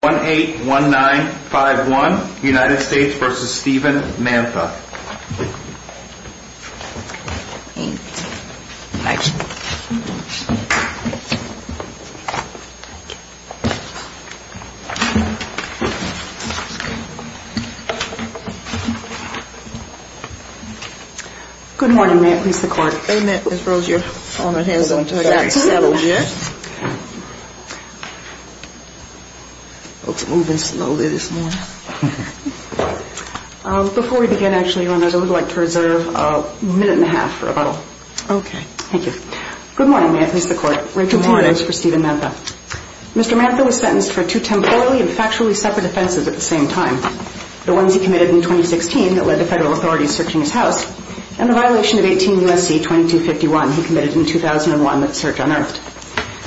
181951 United States v. Stephen Mantha Good morning, Ma'am. Who's the clerk? Ms. Rose, you're on ahead so I'm going to let you settle here. Before we begin, I would like to reserve a minute and a half for rebuttal. Okay. Thank you. Good morning, Ma'am. This is the court. Rachel Haines for Stephen Mantha. Mr. Mantha was sentenced for two temporally and factually separate offenses at the same time. The ones he committed in 2016 that led to federal authorities searching his house and the violation of 18 U.S.C. 2251 he committed in 2001 that the search unearthed.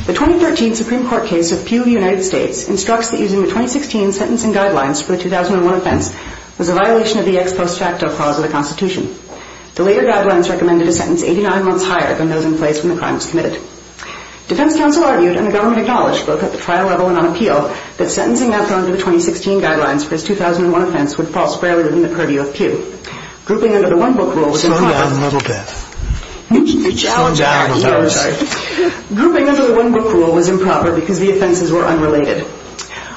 The 2013 Supreme Court case of Pew v. United States instructs that using the 2016 sentencing guidelines for the 2001 offense was a violation of the ex post facto clause of the Constitution. The later guidelines recommended a sentence 89 months higher than those in place when the crime was committed. Defense counsel argued and the government acknowledged, both at the trial level and on appeal, that sentencing Mantha under the 2016 guidelines for his 2001 offense would fall squarely within the purview of Pew. Grouping under the one book rule was improper because the offenses were unrelated.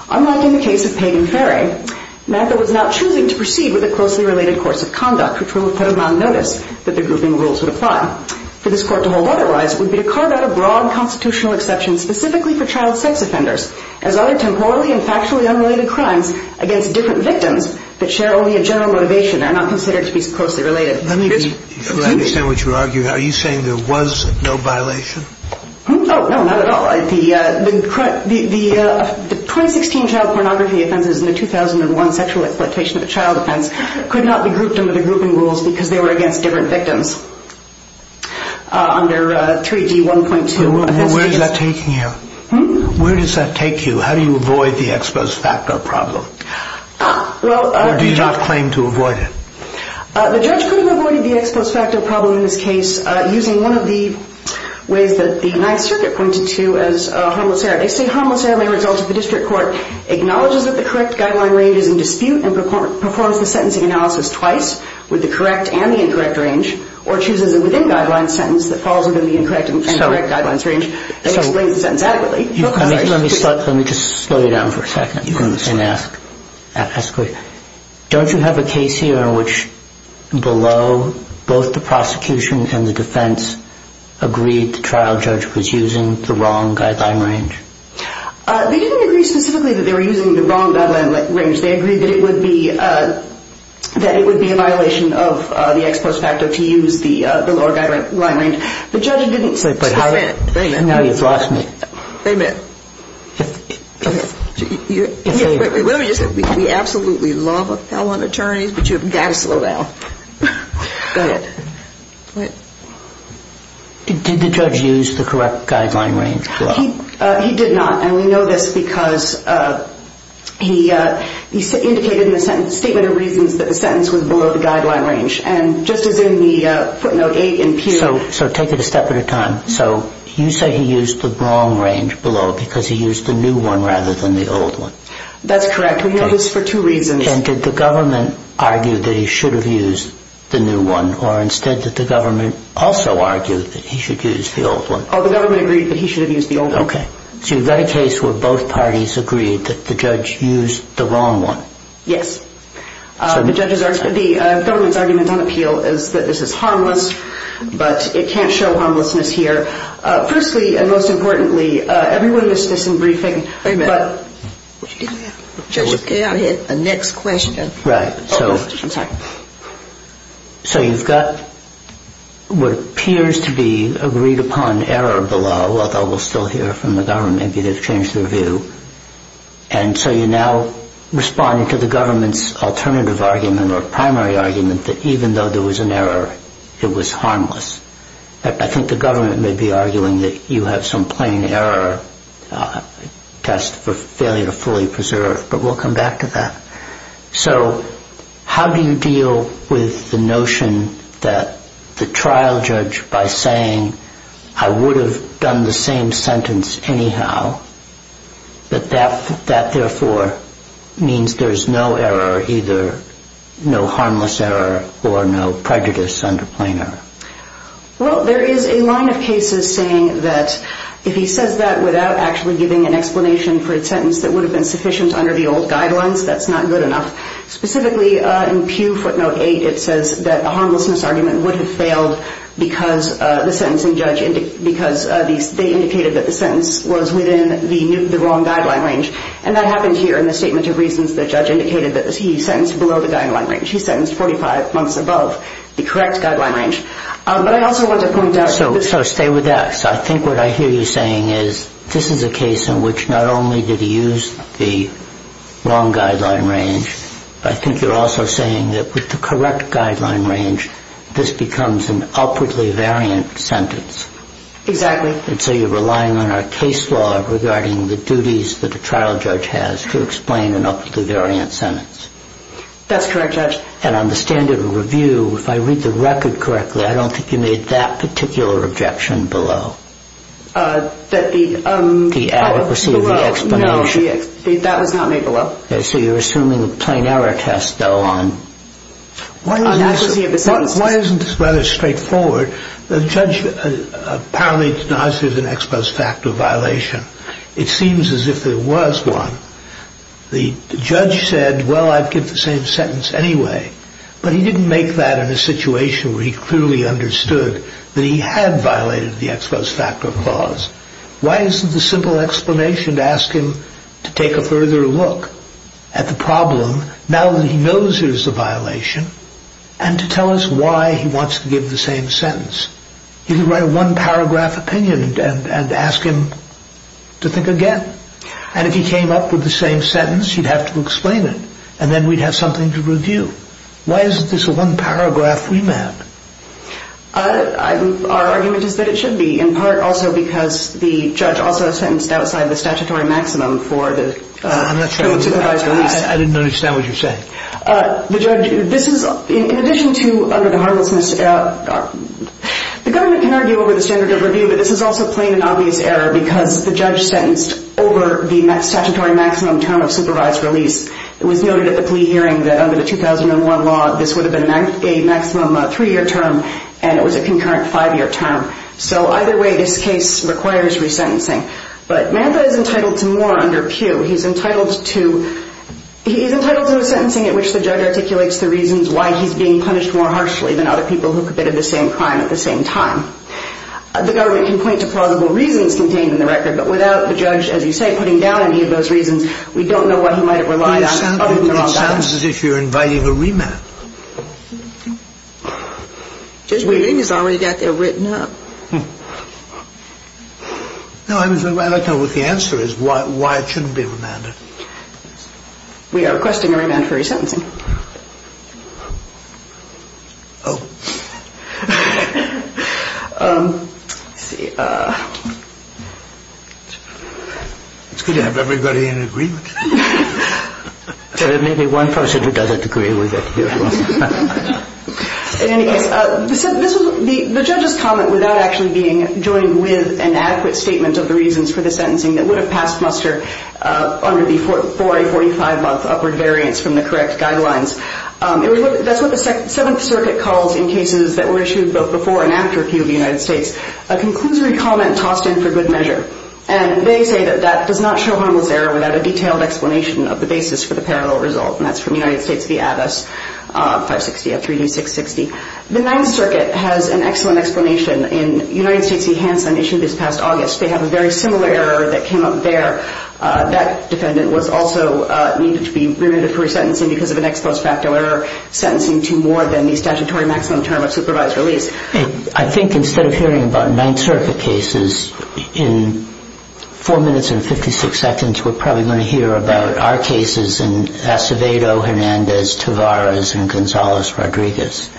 Unlike in the case of Peyton Ferry, Mantha was not choosing to proceed with a closely related course of conduct, which would have put him on notice that the grouping rules would apply. For this court to hold otherwise would be to carve out a broad constitutional exception specifically for child sex offenders as other child sex offenders who share only a general motivation and are not considered to be closely related. Let me be clear. I understand what you're arguing. Are you saying there was no violation? Oh, no, not at all. The 2016 child pornography offenses and the 2001 sexual exploitation of a child offense could not be grouped under the grouping rules because they were against different victims. Under 3D1.2, where does that take you? How do you avoid the ex post facto problem? I do not claim to avoid it. The judge could have avoided the ex post facto problem in this case using one of the ways that the Ninth Circuit pointed to as harmless error. They say harmless error may result if the district court acknowledges that the correct guideline range is in dispute and performs the sentencing analysis twice with the correct and the incorrect range or chooses a within guidelines sentence that falls within the incorrect and correct guidelines range and explains the sentence adequately. Let me just slow you down for a second and ask. Don't you have a case here in which below both the prosecution and the defense agreed the trial judge was using the wrong guideline range? They didn't agree specifically that they were using the wrong guideline range. They agreed that it would be a violation of the ex post facto to use the lower guideline range. The judge didn't... Wait a minute. Wait a minute. Now you've lost me. Wait a minute. Wait a minute. Let me just say, we absolutely love appellate attorneys, but you've got to slow down. Go ahead. Did the judge use the correct guideline range? He did not. And we know this because he indicated in the statement of reasons that the sentence was below the guideline range. And just as in the footnote 8 in Pew... So take it a step at a time. So you say he used the wrong range below because he used the new one rather than the old one. That's correct. We know this for two reasons. And did the government argue that he should have used the new one or instead did the government also argue that he should use the old one? The government agreed that he should have used the old one. Okay. So you've got a case where both parties agreed that the judge used the wrong one. Yes. The government's argument on appeal is that this is harmless, but it can't show harmlessness here. Firstly, and most importantly, everyone missed this in briefing. Wait a minute. Judge, go ahead. The next question. Right. So you've got what appears to be agreed upon error below, although we'll still hear from the government. Maybe they've changed their view. And so you're now responding to the government's alternative argument or primary argument that even though there was an error, it was harmless. I think the government may be arguing that you have some plain error test for failure to fully preserve, but we'll come back to that. So how do you deal with the notion that the trial judge, by saying, I would have done the same sentence anyhow, but that therefore means there's no error, either no harmless error or no prejudice under plain error? Well, there is a line of cases saying that if he says that without actually giving an explanation for a sentence that would have been sufficient under the old guidelines, that's not good enough. Specifically, in Pew footnote 8, it says that a harmlessness argument would have failed because the sentencing judge, because they indicated that the sentence was within the wrong guideline range. And that happens here in the statement of reasons the judge indicated that he sentenced below the guideline range. He sentenced 45 months above the correct guideline range. But I also want to point out that So stay with that. So I think what I hear you saying is this is a case in which not only did he use the wrong guideline range, but I think you're also saying that with the correct guideline range, this becomes an upwardly variant sentence. Exactly. And so you're relying on our case law regarding the duties that a trial judge has to explain an upwardly variant sentence. That's correct, Judge. And on the standard of review, if I read the record correctly, I don't think you made that particular objection below. That the The adequacy of the explanation. No, that was not made below. So you're assuming a plain error test, though, on Why isn't this rather straightforward? The judge apparently denies there's an ex post facto violation. It seems as if there was one. The judge said, well, I'd give the same sentence anyway. But he didn't make that in a situation where he clearly understood that he had violated the ex post facto clause. Why isn't the simple explanation to ask him to take a further look? At the problem. Now that he knows there's a violation and to tell us why he wants to give the same sentence, he can write a one paragraph opinion and ask him to think again. And if he came up with the same sentence, you'd have to explain it. And then we'd have something to review. Why is this a one paragraph remand? Our argument is that it should be in part also because the judge also sentenced outside of the statutory maximum for the. I didn't understand what you're saying. This is in addition to the government can argue over the standard of review. But this is also plain and obvious error because the judge sentenced over the statutory maximum term of supervised release. It was noted at the plea hearing that under the 2001 law, this would have been a maximum three year term and it was a concurrent five year term. So either way, this case requires resentencing. But Manta is entitled to more under Pew. He's entitled to he's entitled to a sentencing at which the judge articulates the reasons why he's being punished more harshly than other people who committed the same crime at the same time. The government can point to plausible reasons contained in the record, but without the judge, as you say, putting down any of those reasons, we don't know what he might have relied on. It sounds as if you're inviting a remand. Just waiting. He's already got there written up. No, I don't know what the answer is, why it shouldn't be remanded. We are requesting a remand for resentencing. Oh, see. It's good to have everybody in agreement. There may be one person who doesn't agree with it. In any case, the judge's comment without actually being joined with an adequate statement of the reasons for the sentencing that would have passed muster under the 40, 45 month upward variance from the correct guidelines. That's what the Seventh Circuit calls in cases that were issued both before and after Pew of the United States, a conclusory comment tossed in for good measure. And they say that that does not show Harmel's error without a detailed explanation of the basis for the parallel result. And that's from United States v. Addis, 560 of 3D660. The Ninth Circuit has an excellent explanation. In United States v. Hanson issued this past August, they have a very similar error that came up there. That defendant was also needed to be remanded for resentencing because of an ex post facto error sentencing to more than the statutory maximum term of supervised release. I think instead of hearing about Ninth Circuit cases, in four minutes and 56 seconds, we're probably going to hear about our cases in Acevedo, Hernandez, Tavares, and Gonzalez-Rodriguez.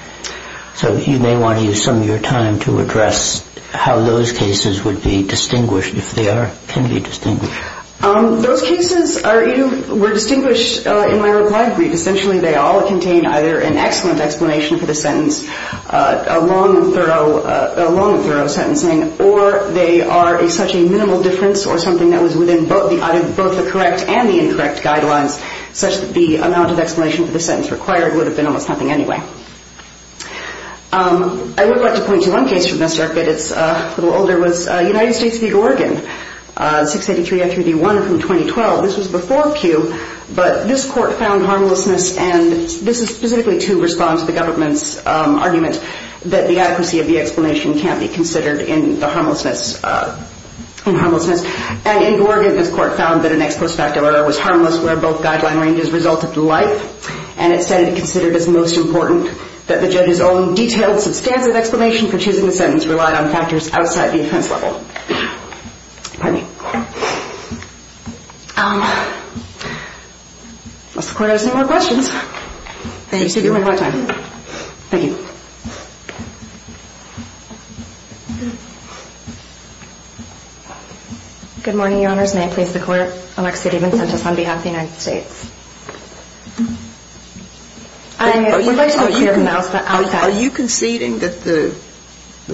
So you may want to use some of your time to address how those cases would be distinguished, if they can be distinguished. Those cases were distinguished in my reply brief. Essentially, they all contain either an excellent explanation for the sentence, a long and thorough sentencing, or they are such a minimal difference or something that was within both the correct and the incorrect guidelines, such that the amount of explanation for the sentence required would have been almost nothing anyway. I would like to point to one case from this circuit. It's a little older. It was United States v. Oregon, 683 of 3D1 from 2012. This was before Pew, but this court found harmlessness, and this is specifically to respond to the government's argument that the adequacy of the explanation can't be considered in the harmlessness. In Oregon, this court found that an ex post facto error was harmless where both guideline ranges resulted to life, and it said it considered as most important that the judge's own detailed substantive explanation for choosing the sentence relied on factors outside the offense level. Unless the court has any more questions. Thank you. Good morning, Your Honors. May I please the court? Are you conceding that the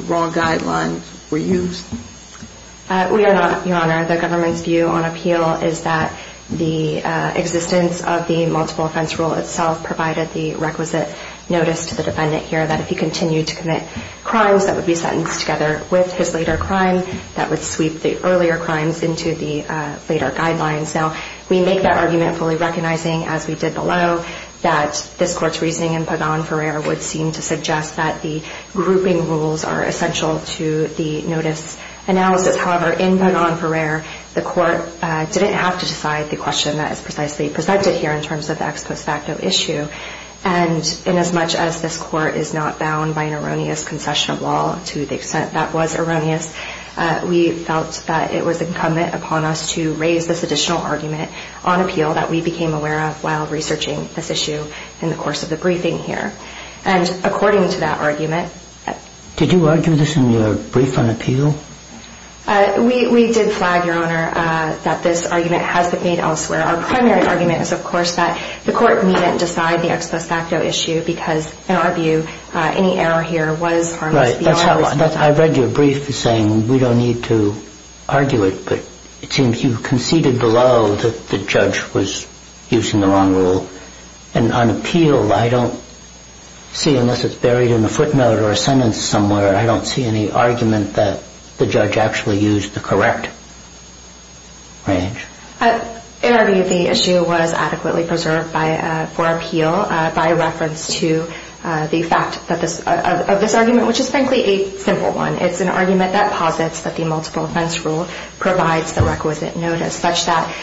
wrong guidelines were used? We are not, Your Honor. The government's view on appeal is that the existence of the multiple offense rule itself provided the requisite notice to the defendant here that if he continued to commit crimes, that would be sentenced together with his later crime, that would sweep the earlier crimes into the later guidelines. Now, we make that argument fully recognizing, as we did below, that this court's reasoning in Pagan-Ferrer would seem to suggest that the grouping rules are essential to the notice analysis. However, in Pagan-Ferrer, the court didn't have to decide the question that is precisely presented here in terms of the ex post facto issue. And inasmuch as this court is not bound by an erroneous concession of law to the extent that was erroneous, we felt that it was incumbent upon us to raise this additional argument on appeal that we became aware of while researching this case. And that's what we did in this issue in the course of the briefing here. And according to that argument... Did you argue this in your brief on appeal? We did flag, Your Honor, that this argument has been made elsewhere. Our primary argument is, of course, that the court needn't decide the ex post facto issue because, in our view, any error here was harmless. I read your brief saying we don't need to argue it, but it seems you conceded below that the judge was using the wrong rule. And on appeal, I don't see, unless it's buried in a footnote or a sentence somewhere, I don't see any argument that the judge actually used the correct range. In our view, the issue was adequately preserved for appeal by reference to the fact of this argument, which is, frankly, a simple one. It's an argument that posits that the multiple offense rule provides the requisite notice, such that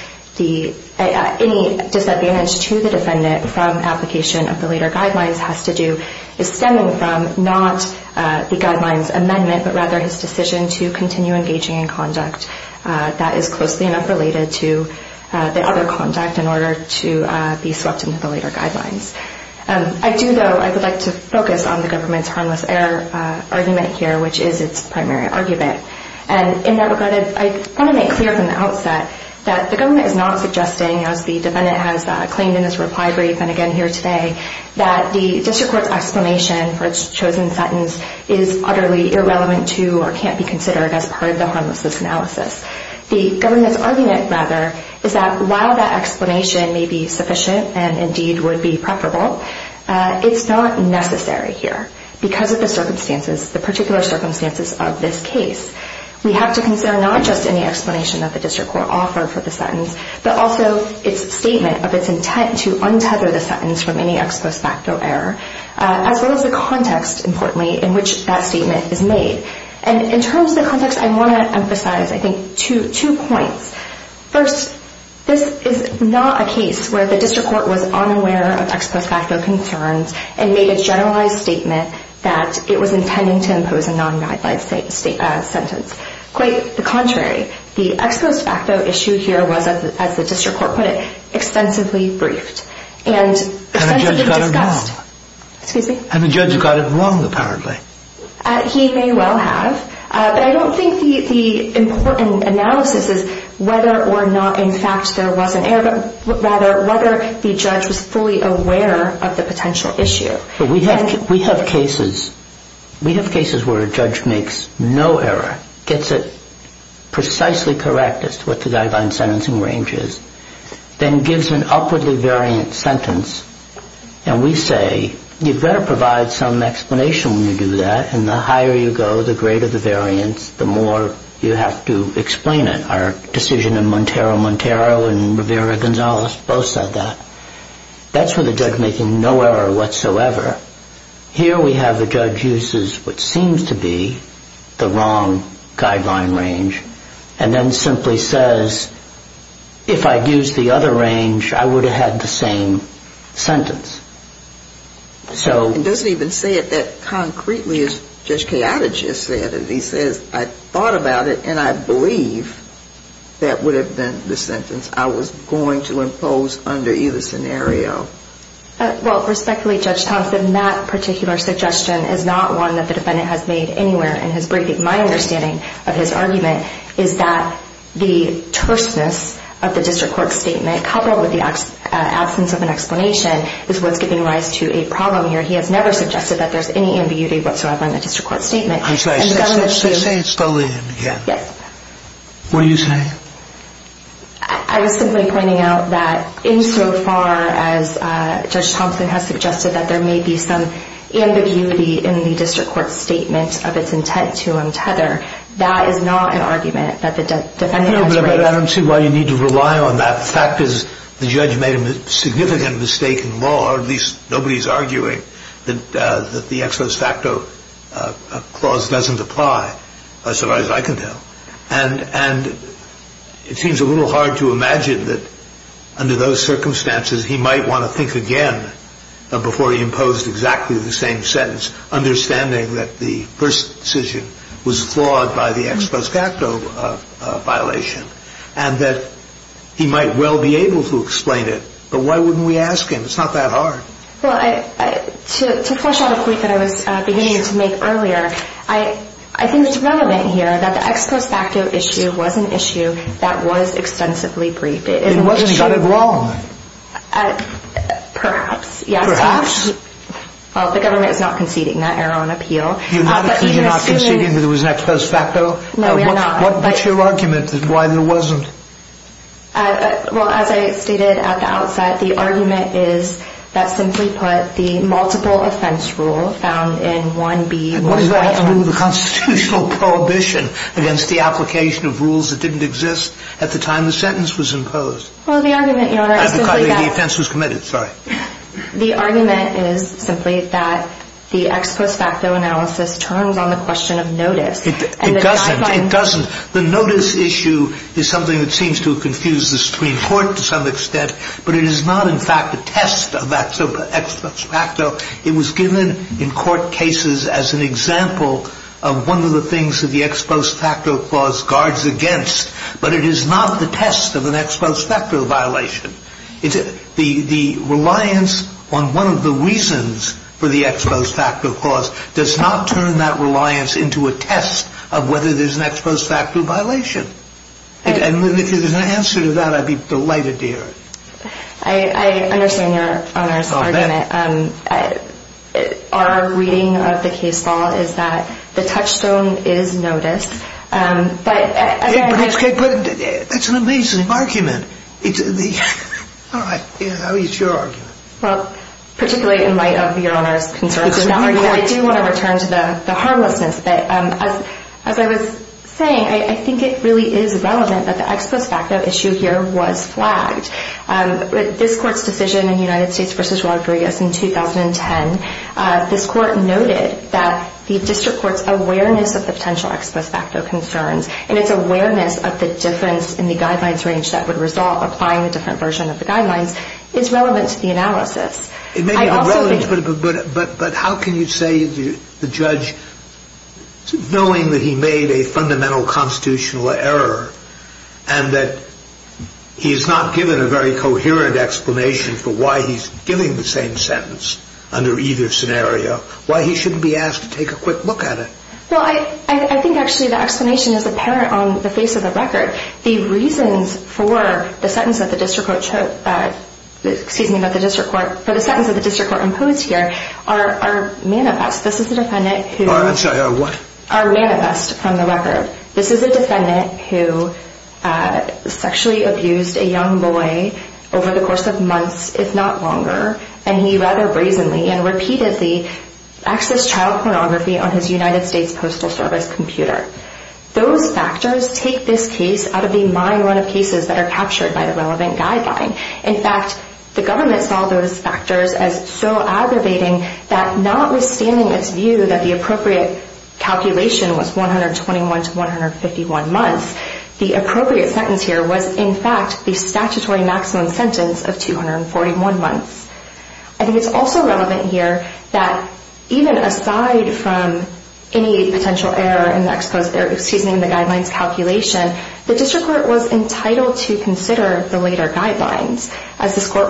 any disadvantage to the defendant from application of the later guidelines has to do, is stemming from not the guidelines amendment, but rather his decision to continue engaging in conduct that is closely enough related to the other conduct in order to be swept into the later guidelines. I do, though, I would like to focus on the government's harmless error argument here, which is its primary argument. And in that regard, I want to make clear from the outset that the government is not suggesting, as the defendant has claimed in his reply brief and again here today, that the district court's explanation for its chosen sentence is utterly irrelevant to or can't be considered as part of the harmlessness analysis. The government's argument, rather, is that while that explanation may be sufficient and indeed would be preferable, it's not necessary here because of the particular circumstances of this case. We have to consider not just any explanation that the district court offered for the sentence, but also its statement of its intent to untether the sentence from any ex post facto error, as well as the context, importantly, in which that statement is made. And in terms of the context, I want to emphasize, I think, two points. First, this is not a case where the district court was unaware of ex post facto concerns and made a generalized statement that it was intending to impose a non-guideline sentence. Quite the contrary, the ex post facto issue here was, as the district court put it, extensively briefed and extensively discussed. And the judge got it wrong, apparently. He may well have, but I don't think the important analysis is whether or not, in fact, there was an error, but rather whether the judge was fully aware of the potential issue. We have cases where a judge makes no error, gets it precisely correct as to what the guideline sentencing range is, then gives an upwardly variant sentence, and we say, you've got to provide some explanation when you do that, and the higher you go, the greater the variance, the more you have to explain it. Our decision in Montero, Montero and Rivera-Gonzalez both said that. That's where the judge making no error whatsoever. Here we have a judge uses what seems to be the wrong guideline range, and then simply says, if I'd used the other range, I would have had the same sentence. It doesn't even say it that concretely, as Judge Cayatta just said. He says, I thought about it, and I believe that would have been the sentence I was going to impose under either scenario. Well, respectfully, Judge Thompson, that particular suggestion is not one that the defendant has made anywhere in his briefing. My understanding of his argument is that the terseness of the district court statement, coupled with the absence of an explanation, is what's giving rise to a problem here. He has never suggested that there's any ambiguity whatsoever in the district court statement. Say it slowly again. I was simply pointing out that insofar as Judge Thompson has suggested that there may be some ambiguity in the district court statement of its intent to, in fact, make an error, that is not an argument that the defendant has raised. I don't see why you need to rely on that. The fact is the judge made a significant mistake in law, or at least nobody's arguing, that the ex-sus facto clause doesn't apply, as far as I can tell. And it seems a little hard to imagine that under those circumstances he might want to think again before he imposed exactly the same sentence, understanding that the first decision was flawed by the ex-sus facto violation and that he might well be able to explain it, but why wouldn't we ask him? It's not that hard. Well, to flush out a point that I was beginning to make earlier, I think it's relevant here that the ex-sus facto issue was an issue that was extensively briefed. It wasn't got it wrong. Perhaps, yes. Well, the government is not conceding that error on appeal. You're not conceding that it was an ex-sus facto? No, we are not. Well, as I stated at the outset, the argument is that, simply put, the multiple offense rule found in 1B... What does that have to do with the constitutional prohibition against the application of rules that didn't exist at the time the sentence was imposed? Well, the argument, Your Honor, is simply that... The argument is simply that the ex-sus facto analysis turns on the question of notice. It doesn't. The notice issue is something that seems to confuse the Supreme Court to some extent, but it is not, in fact, a test of ex-sus facto. It was given in court cases as an example of one of the things that the ex-sus facto clause guards against, but it is not the test of an ex-sus facto violation. The reliance on one of the reasons for the ex-sus facto clause does not turn that reliance into a test of whether there's an ex-sus facto violation. And if there's an answer to that, I'd be delighted to hear it. I understand Your Honor's argument. Our reading of the case law is that the touchstone is notice, but... But that's an amazing argument. All right. How is your argument? Particularly in light of Your Honor's concern, I do want to return to the harmlessness. As I was saying, I think it really is relevant that the ex-sus facto issue here was flagged. This Court's decision in United States v. Rodriguez in 2010, this Court noted that the district court's awareness of the potential ex-sus facto concerns and its awareness of the difference in the guidelines range that would result, applying a different version of the guidelines, is relevant to the analysis. But how can you say the judge, knowing that he made a fundamental constitutional error and that he's not given a very coherent explanation for why he's giving the same sentence under either scenario, why he shouldn't be asked to take a quick look at it? Well, I think actually the explanation is apparent on the face of the record. The reasons for the sentence that the district court imposed here are manifest. Are what? This is a defendant who sexually abused a young boy over the course of months, if not longer, and he rather brazenly and repeatedly accessed child pornography on his United States Postal Service computer. Those factors take this case out of the mind run of cases that are captured by the relevant guideline. In fact, the government saw those factors as so aggravating that notwithstanding its view that the appropriate calculation was 121 to 151 months, the appropriate sentence here was in fact the statutory maximum sentence of 241 months. I think it's also relevant here that even aside from any potential error in the guidelines calculation, the district court was entitled to consider the later guidelines. As the Supreme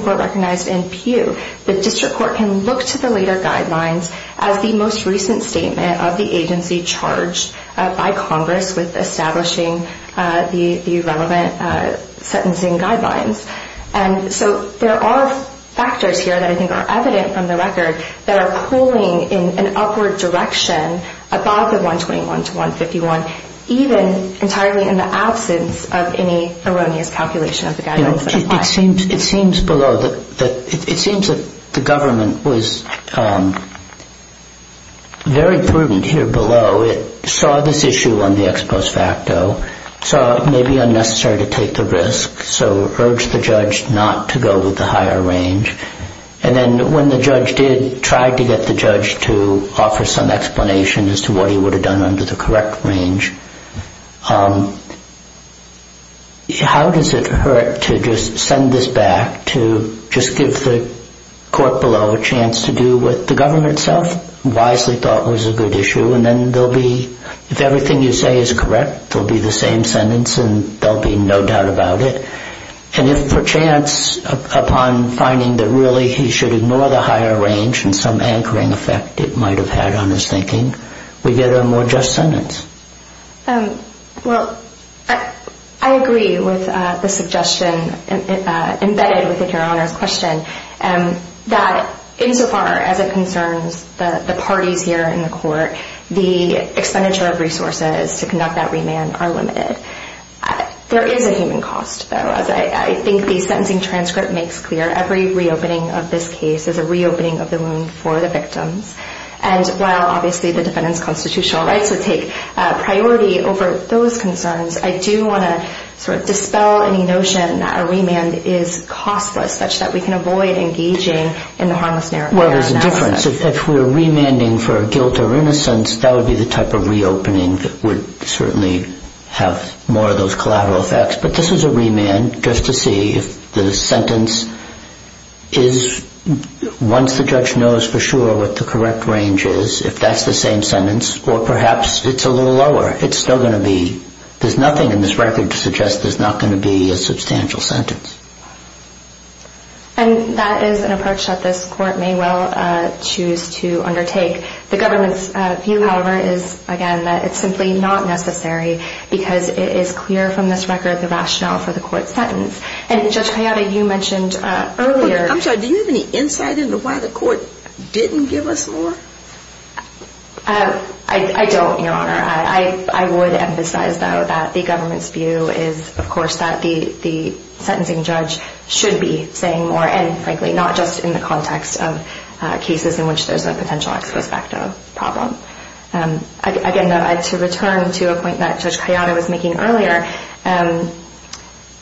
Court recognized in Peugh, the district court can look to the later guidelines as the most recent statement of the agency charged by Congress with establishing the relevant sentencing guidelines. And so there are factors here that I think are evident from the record that are pulling in an upward direction above the 121 to 151, even entirely in the absence of any erroneous calculation of the guidelines. It seems below that it seems that the government was very prudent here below. It saw this issue on the ex post facto, saw it may be unnecessary to take the risk, so urged the judge not to go with the higher range. And then when the judge did, tried to get the judge to offer some explanation as to what he would have done under the correct range. How does it hurt to just send this back, to just give the court below a chance to do what the government itself wisely thought was a good issue, and then there will be, if everything you say is correct, there will be the same sentence and there will be no doubt about it. And if perchance upon finding that really he should ignore the higher range and some anchoring effect it might have had on his thinking, we get a more just sentence. Well, I agree with the suggestion embedded within Your Honor's question, that insofar as it concerns the parties here in the court, the expenditure of resources to conduct that remand are limited. There is a human cost, though, as I think the sentencing transcript makes clear. Every reopening of this case is a reopening of the wound for the victims. And while obviously the defendant's constitutional rights would take priority over those concerns, I do want to sort of dispel any notion that a remand is costless, such that we can avoid engaging in the harmless narrative analysis. Well, there's a difference. If we're remanding for guilt or innocence, that would be the type of reopening that would certainly have more of those collateral effects. But this is a remand just to see if the sentence is, once the judge knows for sure what the correct range is, if that's the same sentence or perhaps it's a little lower. It's still going to be, there's nothing in this record to suggest there's not going to be a substantial sentence. And that is an approach that this court may well choose to undertake. The government's view, however, is, again, that it's simply not necessary because it is clear from this record the rationale for the court's sentence. And Judge Hayata, you mentioned earlier... I'm sorry, do you have any insight into why the court didn't give us more? I don't, Your Honor. I would emphasize, though, that the government's view is, of course, that the sentencing judge should be saying more, and frankly, not just in the context of cases in which there's a potential ex post facto problem. Again, to return to a point that Judge Hayata was making earlier,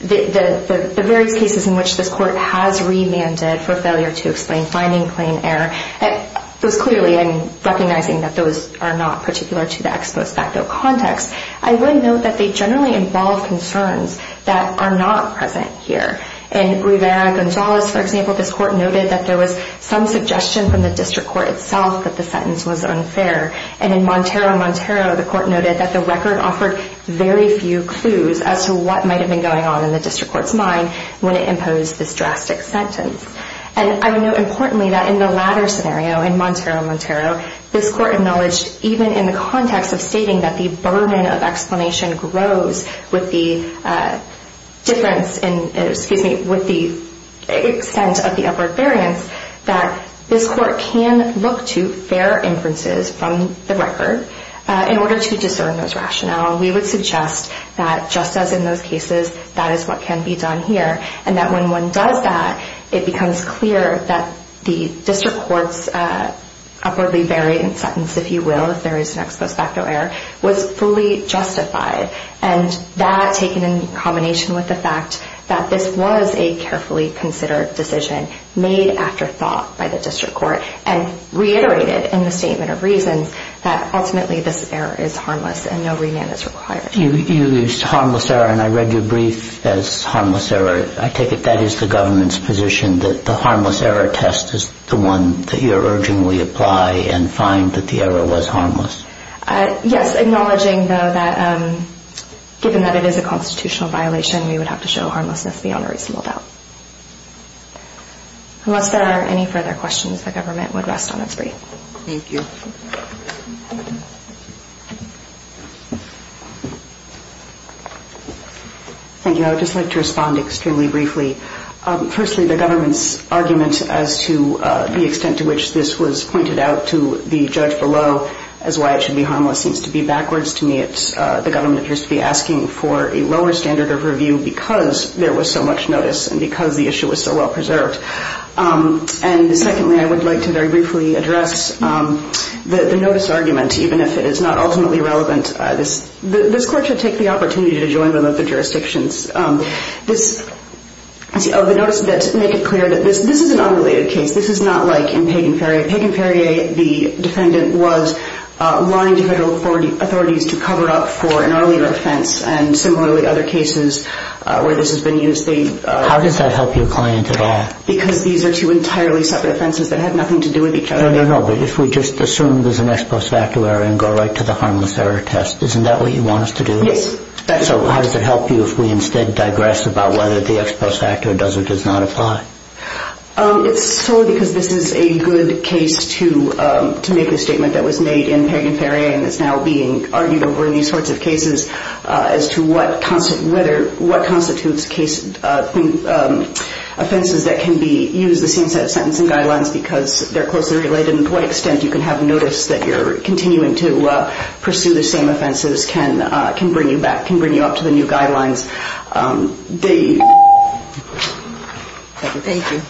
the various cases in which this court has remanded for failure to explain finding plain error, it was clearly, and recognizing that those are not particular to the ex post facto context, I would note that they generally involve concerns that are not present here. In Rivera-Gonzalez, for example, this court noted that there was some suggestion from the district court itself that the sentence was unfair. And in Montero-Montero, the court noted that the record offered very few clues as to what might have been going on in the district court's mind when it imposed this drastic sentence. And I would note, importantly, that in the latter scenario, in Montero-Montero, this court acknowledged, even in the context of stating that the burden of explanation grows with the difference in, excuse me, with the extent of the upward variance, that this court can look to fair inferences from the record in order to discern those rationale. We would suggest that, just as in those cases, that is what can be done here, and that when one does that, it becomes clear that the district court's upwardly variant sentence, if you will, if there is an ex post facto error, was fully justified. And that, taken in combination with the fact that this was a carefully considered decision, made after thought by the district court, and reiterated in the statement of reasons that, ultimately, this error is harmless and no remand is I take it that is the government's position that the harmless error test is the one that you are urging we apply and find that the error was harmless? Yes. Acknowledging, though, that given that it is a constitutional violation, we would have to show harmlessness beyond a reasonable doubt. Unless there are any further questions, the government would rest on its feet. Thank you. Thank you. I would just like to respond extremely briefly. Firstly, the government's argument as to the extent to which this was pointed out to the judge below as why it should be harmless seems to be backwards to me. The government appears to be asking for a lower standard of review because there was so much notice and because the issue was so well preserved. And secondly, I would like to very briefly address the notice argument, even if it is not ultimately relevant. This court should take the opportunity to join them at the jurisdictions. The notice does make it clear that this is an unrelated case. This is not like in Pagan-Ferrier. Pagan-Ferrier, the defendant, was lying to federal authorities to cover up for an unrelated case. How does that help your client at all? Because these are two entirely separate offenses that have nothing to do with each other. No, no, no. But if we just assume there is an ex post facto error and go right to the harmless error test, isn't that what you want us to do? Yes. So how does it help you if we instead digress about whether the ex post facto does or does not apply? It is solely because this is a good case to make a statement that was made in Pagan-Ferrier and is now being argued over in these sorts of cases as to what constitutes offenses that can be used the same set of sentencing guidelines because they are closely related and to what extent you can have a case that can bring you up to the new guidelines. Thank you.